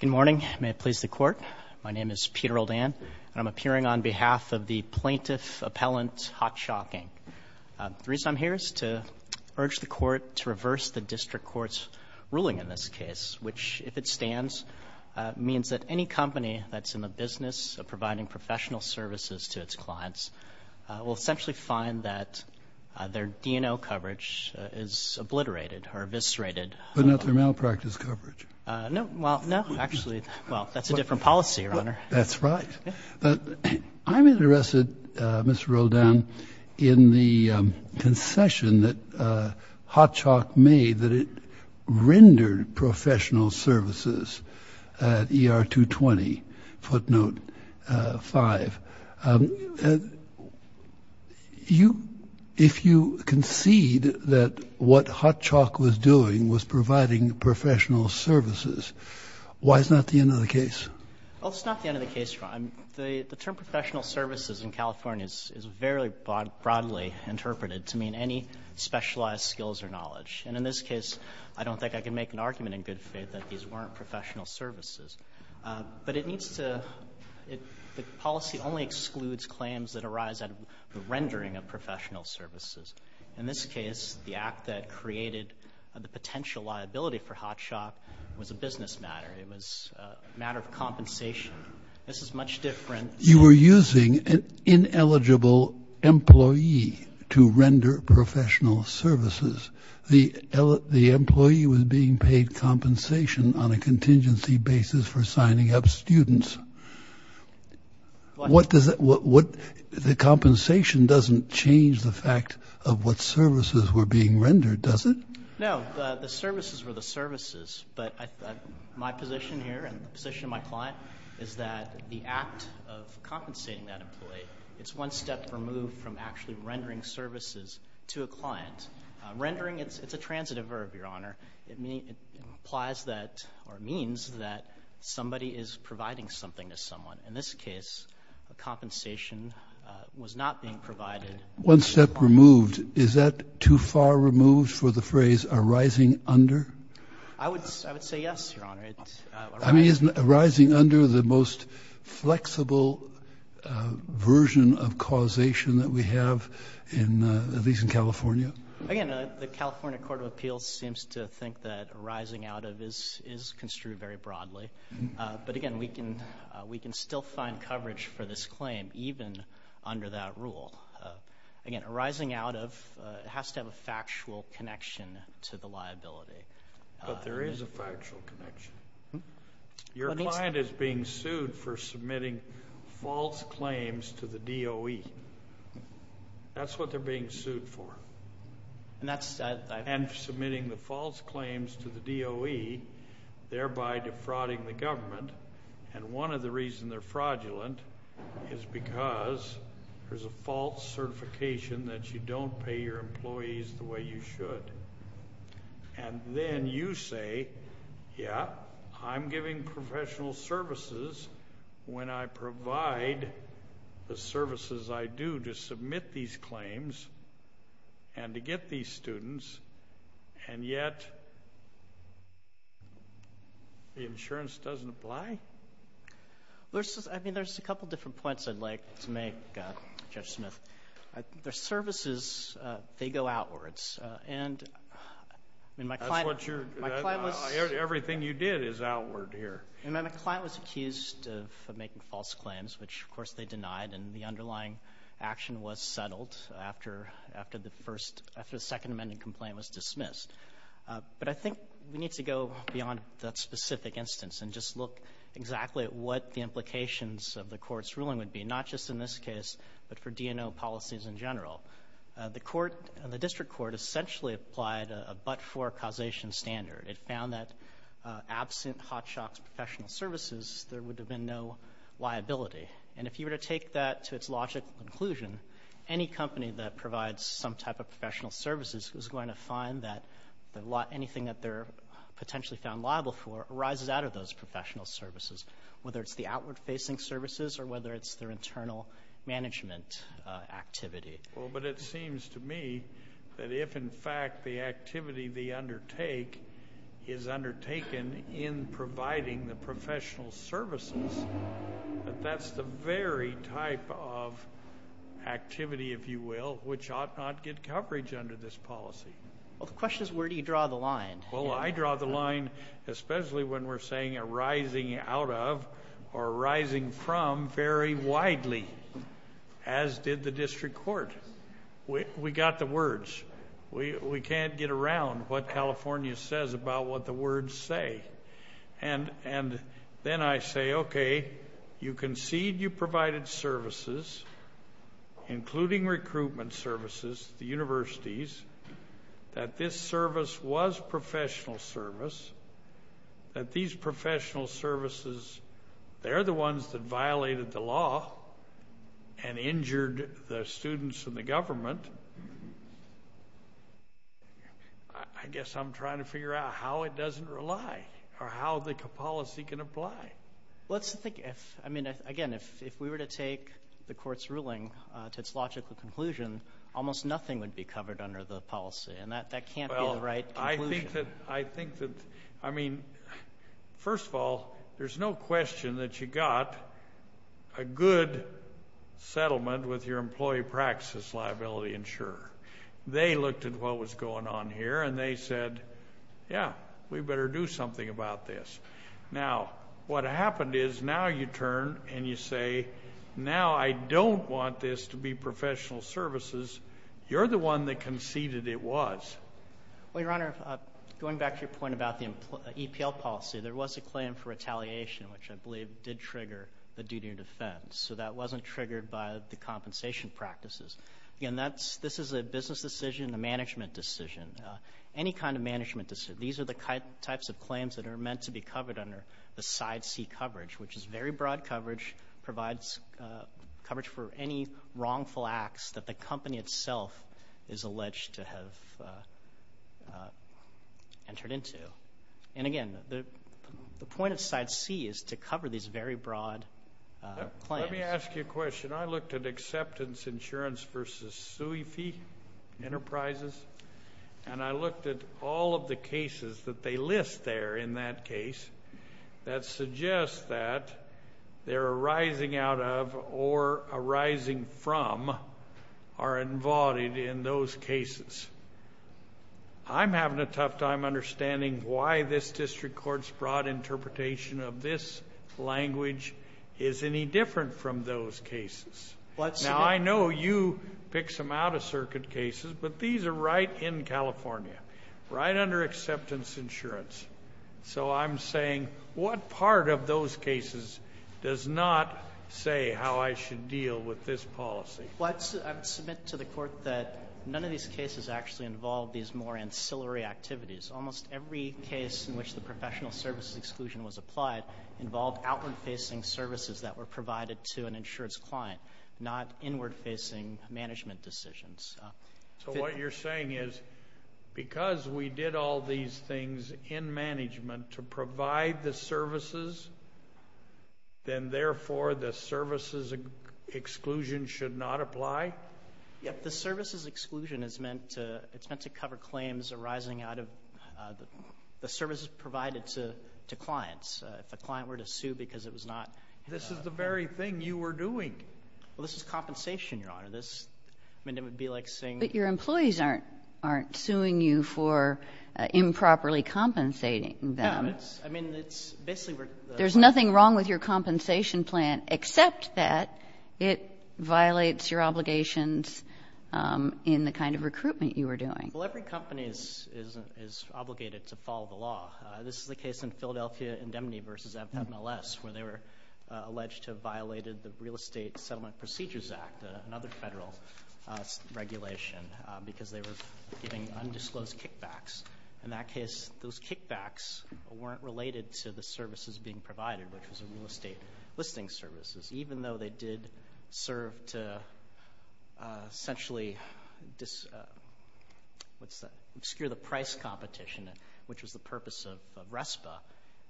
Good morning. May it please the Court. My name is Peter O'Dan, and I'm appearing on behalf of the plaintiff appellant HotChalk, Inc. The reason I'm here is to urge the Court to reverse the District Court's ruling in this case, which, if it stands, means that any company that's in the business of providing professional services to its clients will essentially find that their D&O coverage is obliterated or eviscerated. But not their malpractice coverage. No. Well, no, actually. Well, that's a different policy, Your Honor. That's right. I'm interested, Mr. O'Dan, in the concession that HotChalk made that it rendered professional services at ER 220, footnote 5. You — if you concede that what HotChalk was doing was providing professional services, why is that not the end of the case? Well, it's not the end of the case, Your Honor. The term professional services in California is very broadly interpreted to mean any specialized skills or knowledge. And in this case, I don't think I can make an argument in good faith that these weren't professional services. But it needs to — the policy only excludes claims that arise out of the rendering of professional services. In this case, the act that created the potential liability for HotChalk was a business matter. It was a matter of compensation. This is much different. You were using an ineligible employee to render professional services. The employee was being paid compensation on a contingency basis for signing up students. What does that — the compensation doesn't change the fact of what services were being rendered, does it? No. The services were the services. But my position here and the position of my client is that the act of compensating that employee, it's one step removed from actually rendering services to a client. Rendering, it's a transitive verb, Your Honor. It implies that or means that somebody is providing something to someone. In this case, a compensation was not being provided. One step removed. Is that too far removed for the phrase arising under? I would say yes, Your Honor. I mean, isn't arising under the most flexible version of causation that we have, at least in California? Again, the California Court of Appeals seems to think that arising out of is construed very broadly. But, again, we can still find coverage for this claim even under that rule. Again, arising out of has to have a factual connection to the liability. But there is a factual connection. Your client is being sued for submitting false claims to the DOE. That's what they're being sued for. And submitting the false claims to the DOE, thereby defrauding the government. And one of the reasons they're fraudulent is because there's a false certification that you don't pay your employees the way you should. And then you say, yeah, I'm giving professional services when I provide the services I do to submit these claims and to get these students. And yet, the insurance doesn't apply? I mean, there's a couple different points I'd like to make, Judge Smith. Their services, they go outwards. And my client was accused of making false claims, which, of course, they denied. And the underlying action was settled after the Second Amendment complaint was dismissed. But I think we need to go beyond that specific instance and just look exactly at what the implications of the court's ruling would be, not just in this case, but for DNO policies in general. The district court essentially applied a but-for causation standard. It found that absent Hotshox Professional Services, there would have been no liability. And if you were to take that to its logical conclusion, any company that provides some type of professional services is going to find that anything that they're potentially found liable for arises out of those professional services, whether it's the outward-facing services or whether it's their internal management activity. Well, but it seems to me that if, in fact, the activity they undertake is undertaken in providing the professional services, that that's the very type of activity, if you will, which ought not get coverage under this policy. Well, the question is, where do you draw the line? Well, I draw the line especially when we're saying arising out of or arising from very widely, as did the district court. We got the words. We can't get around what California says about what the words say. And then I say, okay, you concede you provided services, including recruitment services to the universities, that this service was professional service, that these professional services, they're the ones that violated the law and injured the students and the government. I guess I'm trying to figure out how it doesn't rely or how the policy can apply. Let's think. I mean, again, if we were to take the court's ruling to its logical conclusion, almost nothing would be covered under the policy, and that can't be the right conclusion. Well, I think that, I mean, first of all, there's no question that you got a good settlement with your employee practice liability insurer. They looked at what was going on here, and they said, yeah, we better do something about this. Now, what happened is now you turn and you say, now I don't want this to be professional services. You're the one that conceded it was. Well, Your Honor, going back to your point about the EPL policy, there was a claim for retaliation, which I believe did trigger the duty of defense. So that wasn't triggered by the compensation practices. Again, this is a business decision, a management decision, any kind of management decision. These are the types of claims that are meant to be covered under the side C coverage, which is very broad coverage, provides coverage for any wrongful acts that the company itself is alleged to have entered into. And, again, the point of side C is to cover these very broad claims. Let me ask you a question. I looked at acceptance insurance versus SUI fee enterprises, and I looked at all of the cases that they list there in that case that suggest that they're arising out of or arising from or involved in those cases. I'm having a tough time understanding why this district court's broad interpretation of this language is any different from those cases. Now, I know you pick some out-of-circuit cases, but these are right in California, right under acceptance insurance. So I'm saying what part of those cases does not say how I should deal with this policy? Well, I submit to the court that none of these cases actually involve these more ancillary activities. Almost every case in which the professional services exclusion was applied involved outward-facing services that were provided to an insurance client, not inward-facing management decisions. So what you're saying is because we did all these things in management to provide the services, then, therefore, the services exclusion should not apply? Yep. The services exclusion is meant to cover claims arising out of the services provided to clients. If a client were to sue because it was not— This is the very thing you were doing. Well, this is compensation, Your Honor. I mean, it would be like saying— But your employees aren't suing you for improperly compensating them. Yeah, I mean, it's basically where— There's nothing wrong with your compensation plan, except that it violates your obligations in the kind of recruitment you were doing. Well, every company is obligated to follow the law. This is the case in Philadelphia Indemnity v. FMLS, where they were alleged to have violated the Real Estate Settlement Procedures Act, another federal regulation, because they were giving undisclosed kickbacks. In that case, those kickbacks weren't related to the services being provided, which was the real estate listing services, even though they did serve to essentially obscure the price competition, which was the purpose of RESPA.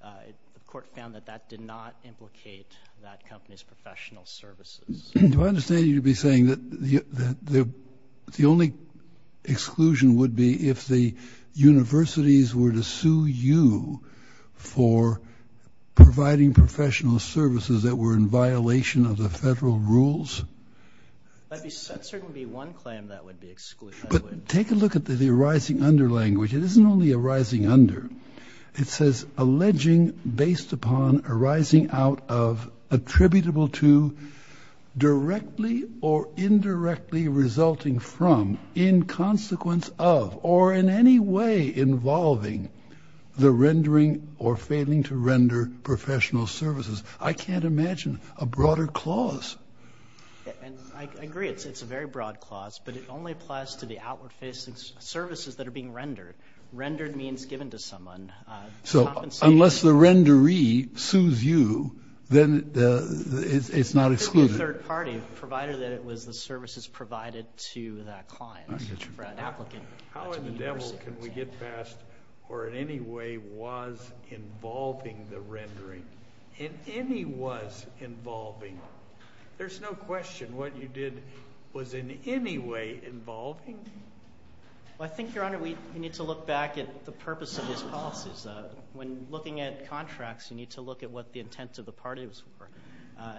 The court found that that did not implicate that company's professional services. Do I understand you to be saying that the only exclusion would be if the universities were to sue you for providing professional services that were in violation of the federal rules? That would certainly be one claim that would be excluded. But take a look at the arising under language. It isn't only arising under. It says, alleging based upon arising out of attributable to, directly or indirectly resulting from, in consequence of, or in any way involving the rendering or failing to render professional services. I can't imagine a broader clause. I agree it's a very broad clause, but it only applies to the outward-facing services that are being rendered. Rendered means given to someone. So unless the renderee sues you, then it's not excluded. It's a third party, provided that it was the services provided to that client or that applicant. How in the devil can we get past or in any way was involving the rendering? In any was involving. There's no question what you did was in any way involving. I think, Your Honor, we need to look back at the purpose of these policies. When looking at contracts, you need to look at what the intent of the party was for.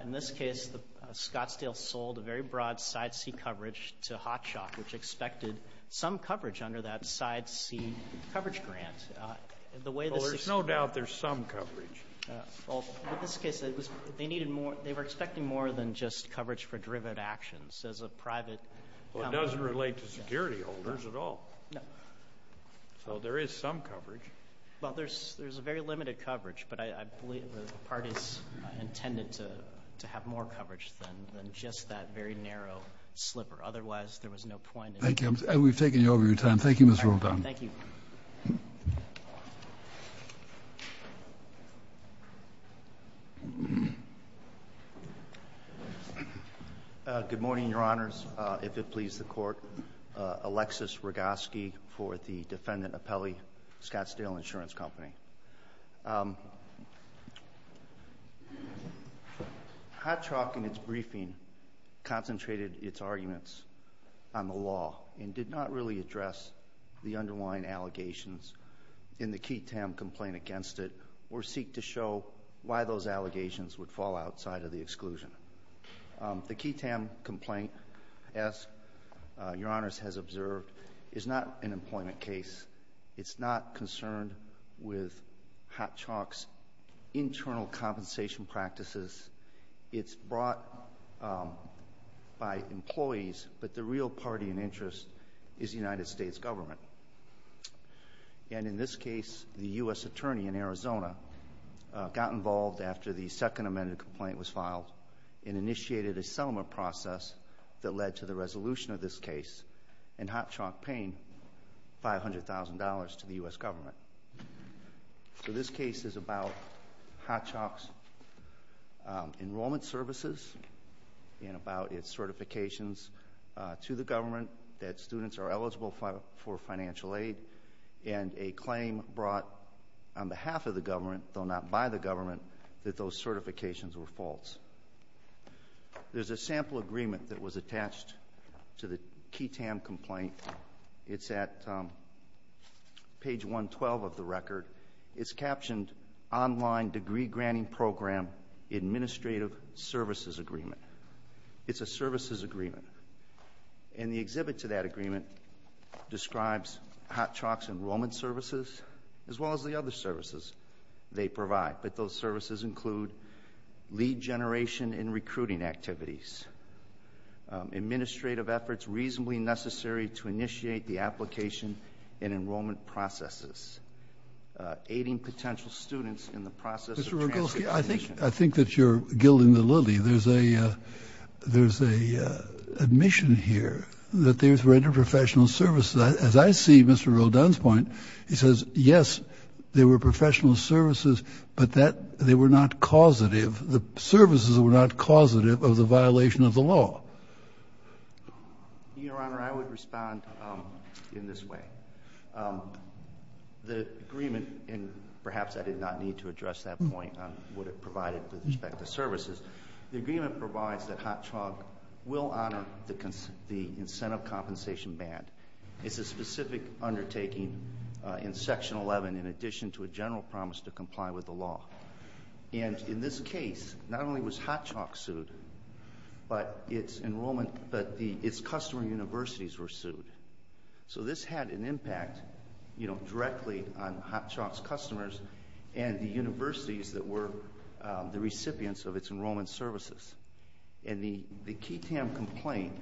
In this case, Scottsdale sold a very broad side seat coverage to Hotshot, which expected some coverage under that side seat coverage grant. There's no doubt there's some coverage. In this case, they were expecting more than just coverage for driven actions as a private company. Well, it doesn't relate to security holders at all. No. So there is some coverage. Well, there's a very limited coverage, but I believe the parties intended to have more coverage than just that very narrow slipper. Otherwise, there was no point. Thank you. We've taken over your time. Thank you, Mr. Oldham. Thank you. Good morning, Your Honors. If it pleases the Court, Alexis Rogoski for the defendant appellee, Scottsdale Insurance Company. Hotshot, in its briefing, concentrated its arguments on the law and did not really address the underlying allegations in the key TAM complaint against it or seek to show why those allegations would fall outside of the exclusion. The key TAM complaint, as Your Honors has observed, is not an employment case. It's not concerned with Hotshot's internal compensation practices. It's brought by employees, but the real party in interest is the United States government. And in this case, the U.S. attorney in Arizona got involved after the second amended complaint was filed and initiated a settlement process that led to the resolution of this case and Hotshot paying $500,000 to the U.S. government. So this case is about Hotshot's enrollment services and about its certifications to the government that students are eligible for financial aid and a claim brought on behalf of the government, though not by the government, that those certifications were false. There's a sample agreement that was attached to the key TAM complaint. It's at page 112 of the record. It's captioned, Online Degree Granting Program Administrative Services Agreement. It's a services agreement. And the exhibit to that agreement describes Hotshot's enrollment services as well as the other services they provide, but those services include lead generation and recruiting activities, administrative efforts reasonably necessary to initiate the application and enrollment processes, aiding potential students in the process of transition. Mr. Rogolsky, I think that you're gilding the lily. There's an admission here that there were interprofessional services. As I see Mr. Rodin's point, he says, yes, there were professional services, but they were not causative. The services were not causative of the violation of the law. Your Honor, I would respond in this way. The agreement, and perhaps I did not need to address that point on what it provided with respect to services, the agreement provides that Hotshot will honor the incentive compensation band. It's a specific undertaking in Section 11 in addition to a general promise to comply with the law. And in this case, not only was Hotshot sued, but its enrollment, but its customer universities were sued. So this had an impact, you know, directly on Hotshot's customers and the universities that were the recipients of its enrollment services. And the KTAM complaint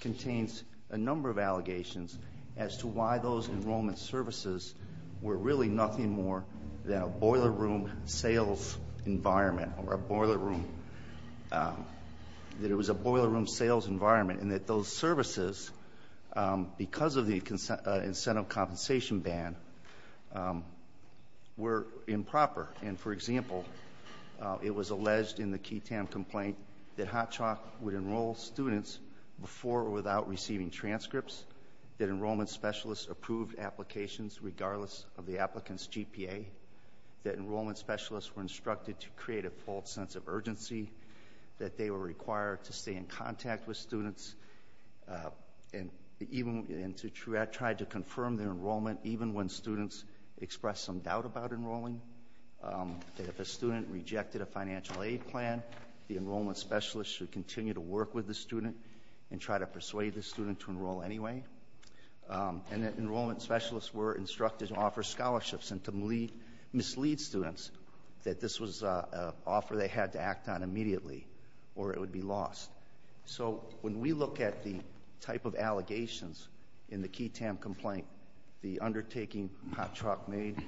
contains a number of allegations as to why those enrollment services were really nothing more than a boiler room sales environment or a boiler room. That it was a boiler room sales environment and that those services, because of the incentive compensation band, were improper. And, for example, it was alleged in the KTAM complaint that Hotshot would enroll students before or without receiving transcripts, that enrollment specialists approved applications regardless of the applicant's GPA, that enrollment specialists were instructed to create a false sense of urgency, that they were required to stay in contact with students and to try to confirm their enrollment even when students expressed some doubt about enrolling, that if a student rejected a financial aid plan, the enrollment specialist should continue to work with the student and try to persuade the student to enroll anyway, and that enrollment specialists were instructed to offer scholarships and to mislead students that this was an offer they had to act on immediately or it would be lost. So when we look at the type of allegations in the KTAM complaint, the undertaking Hotshot made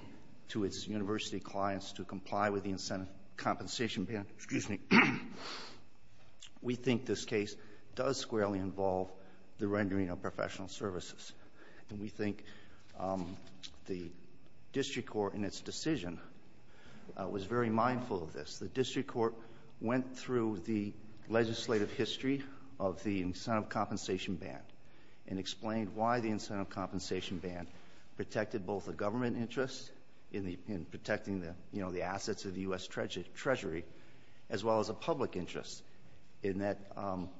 to its university clients to comply with the incentive compensation band, we think this case does squarely involve the rendering of professional services. And we think the district court in its decision was very mindful of this. The district court went through the legislative history of the incentive compensation band and explained why the incentive compensation band protected both the government interest in protecting the assets of the U.S. Treasury as well as a public interest in that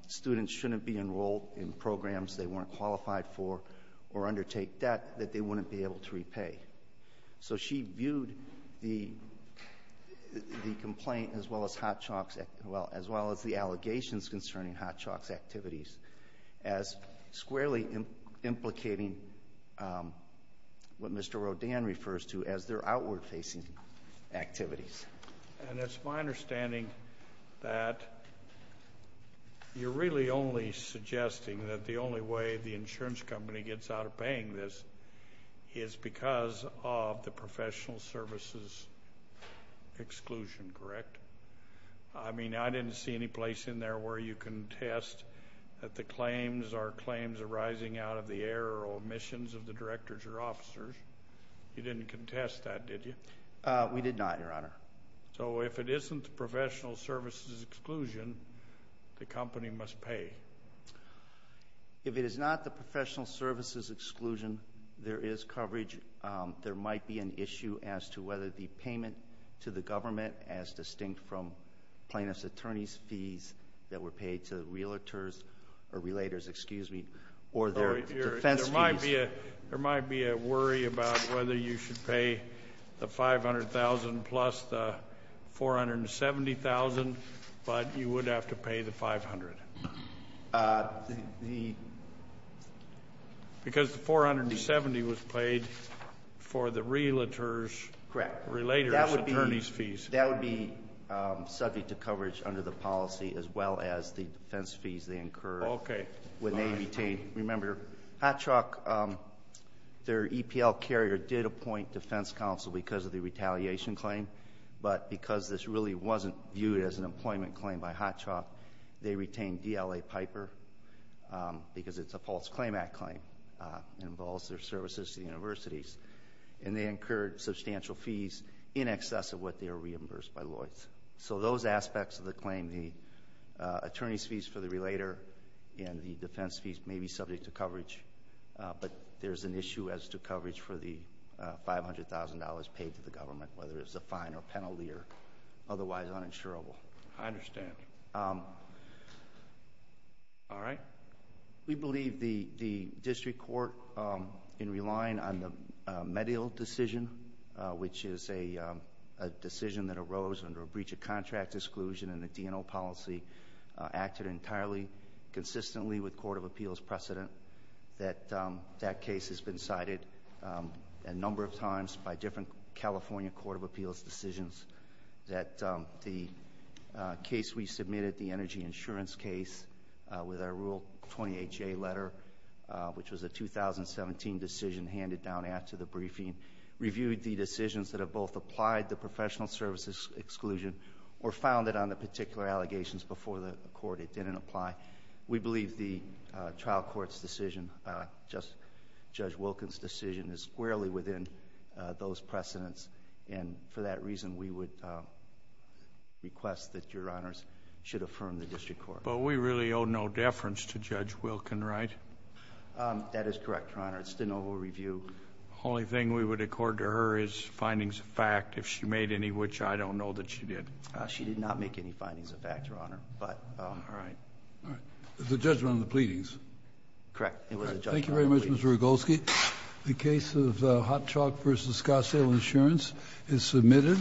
students shouldn't be enrolled in programs they weren't qualified for or undertake debt that they wouldn't be able to repay. So she viewed the complaint as well as the allegations concerning Hotshot's activities as squarely implicating what Mr. Rodan refers to as their outward-facing activities. And it's my understanding that you're really only suggesting that the only way the insurance company gets out of paying this is because of the professional services exclusion, correct? I mean, I didn't see any place in there where you contest that the claims are claims arising out of the error or omissions of the directors or officers. You didn't contest that, did you? We did not, Your Honor. So if it isn't the professional services exclusion, the company must pay? If it is not the professional services exclusion, there is coverage. There might be an issue as to whether the payment to the government as distinct from plaintiff's attorney's fees that were paid to realtors or their defense fees. There might be a worry about whether you should pay the $500,000 plus the $470,000, but you would have to pay the $500,000. Because the $470,000 was paid for the realtors' attorney's fees. That would be subject to coverage under the policy as well as the defense fees they incurred. Okay. Remember, Hot Truck, their EPL carrier did appoint defense counsel because of the retaliation claim, but because this really wasn't viewed as an employment claim by Hot Truck, they retained DLA Piper because it's a false claim act claim. It involves their services to the universities. And they incurred substantial fees in excess of what they were reimbursed by Lloyds. So those aspects of the claim, the attorney's fees for the relator and the defense fees may be subject to coverage, but there is an issue as to coverage for the $500,000 paid to the government, whether it's a fine or penalty or otherwise uninsurable. I understand. All right. We believe the district court, in relying on the Medill decision, which is a decision that arose under a breach of contract exclusion in the D&O policy, acted entirely consistently with court of appeals precedent. That case has been cited a number of times by different California court of appeals decisions that the case we submitted, the energy insurance case with our Rule 28J letter, which was a 2017 decision handed down after the briefing, reviewed the decisions that have both applied the professional services exclusion or found it on the particular allegations before the court it didn't apply. We believe the trial court's decision, Judge Wilkins' decision, is squarely within those precedents. And for that reason, we would request that Your Honors should affirm the district court. But we really owe no deference to Judge Wilkin, right? That is correct, Your Honor. It's still no review. The only thing we would accord to her is findings of fact. If she made any, which I don't know that she did. She did not make any findings of fact, Your Honor, but all right. All right. The judgment on the pleadings. Correct. It was a judgment on the pleadings. Thank you very much, Mr. Rogolsky. The case of Hot Chalk v. Scottsdale Insurance is submitted.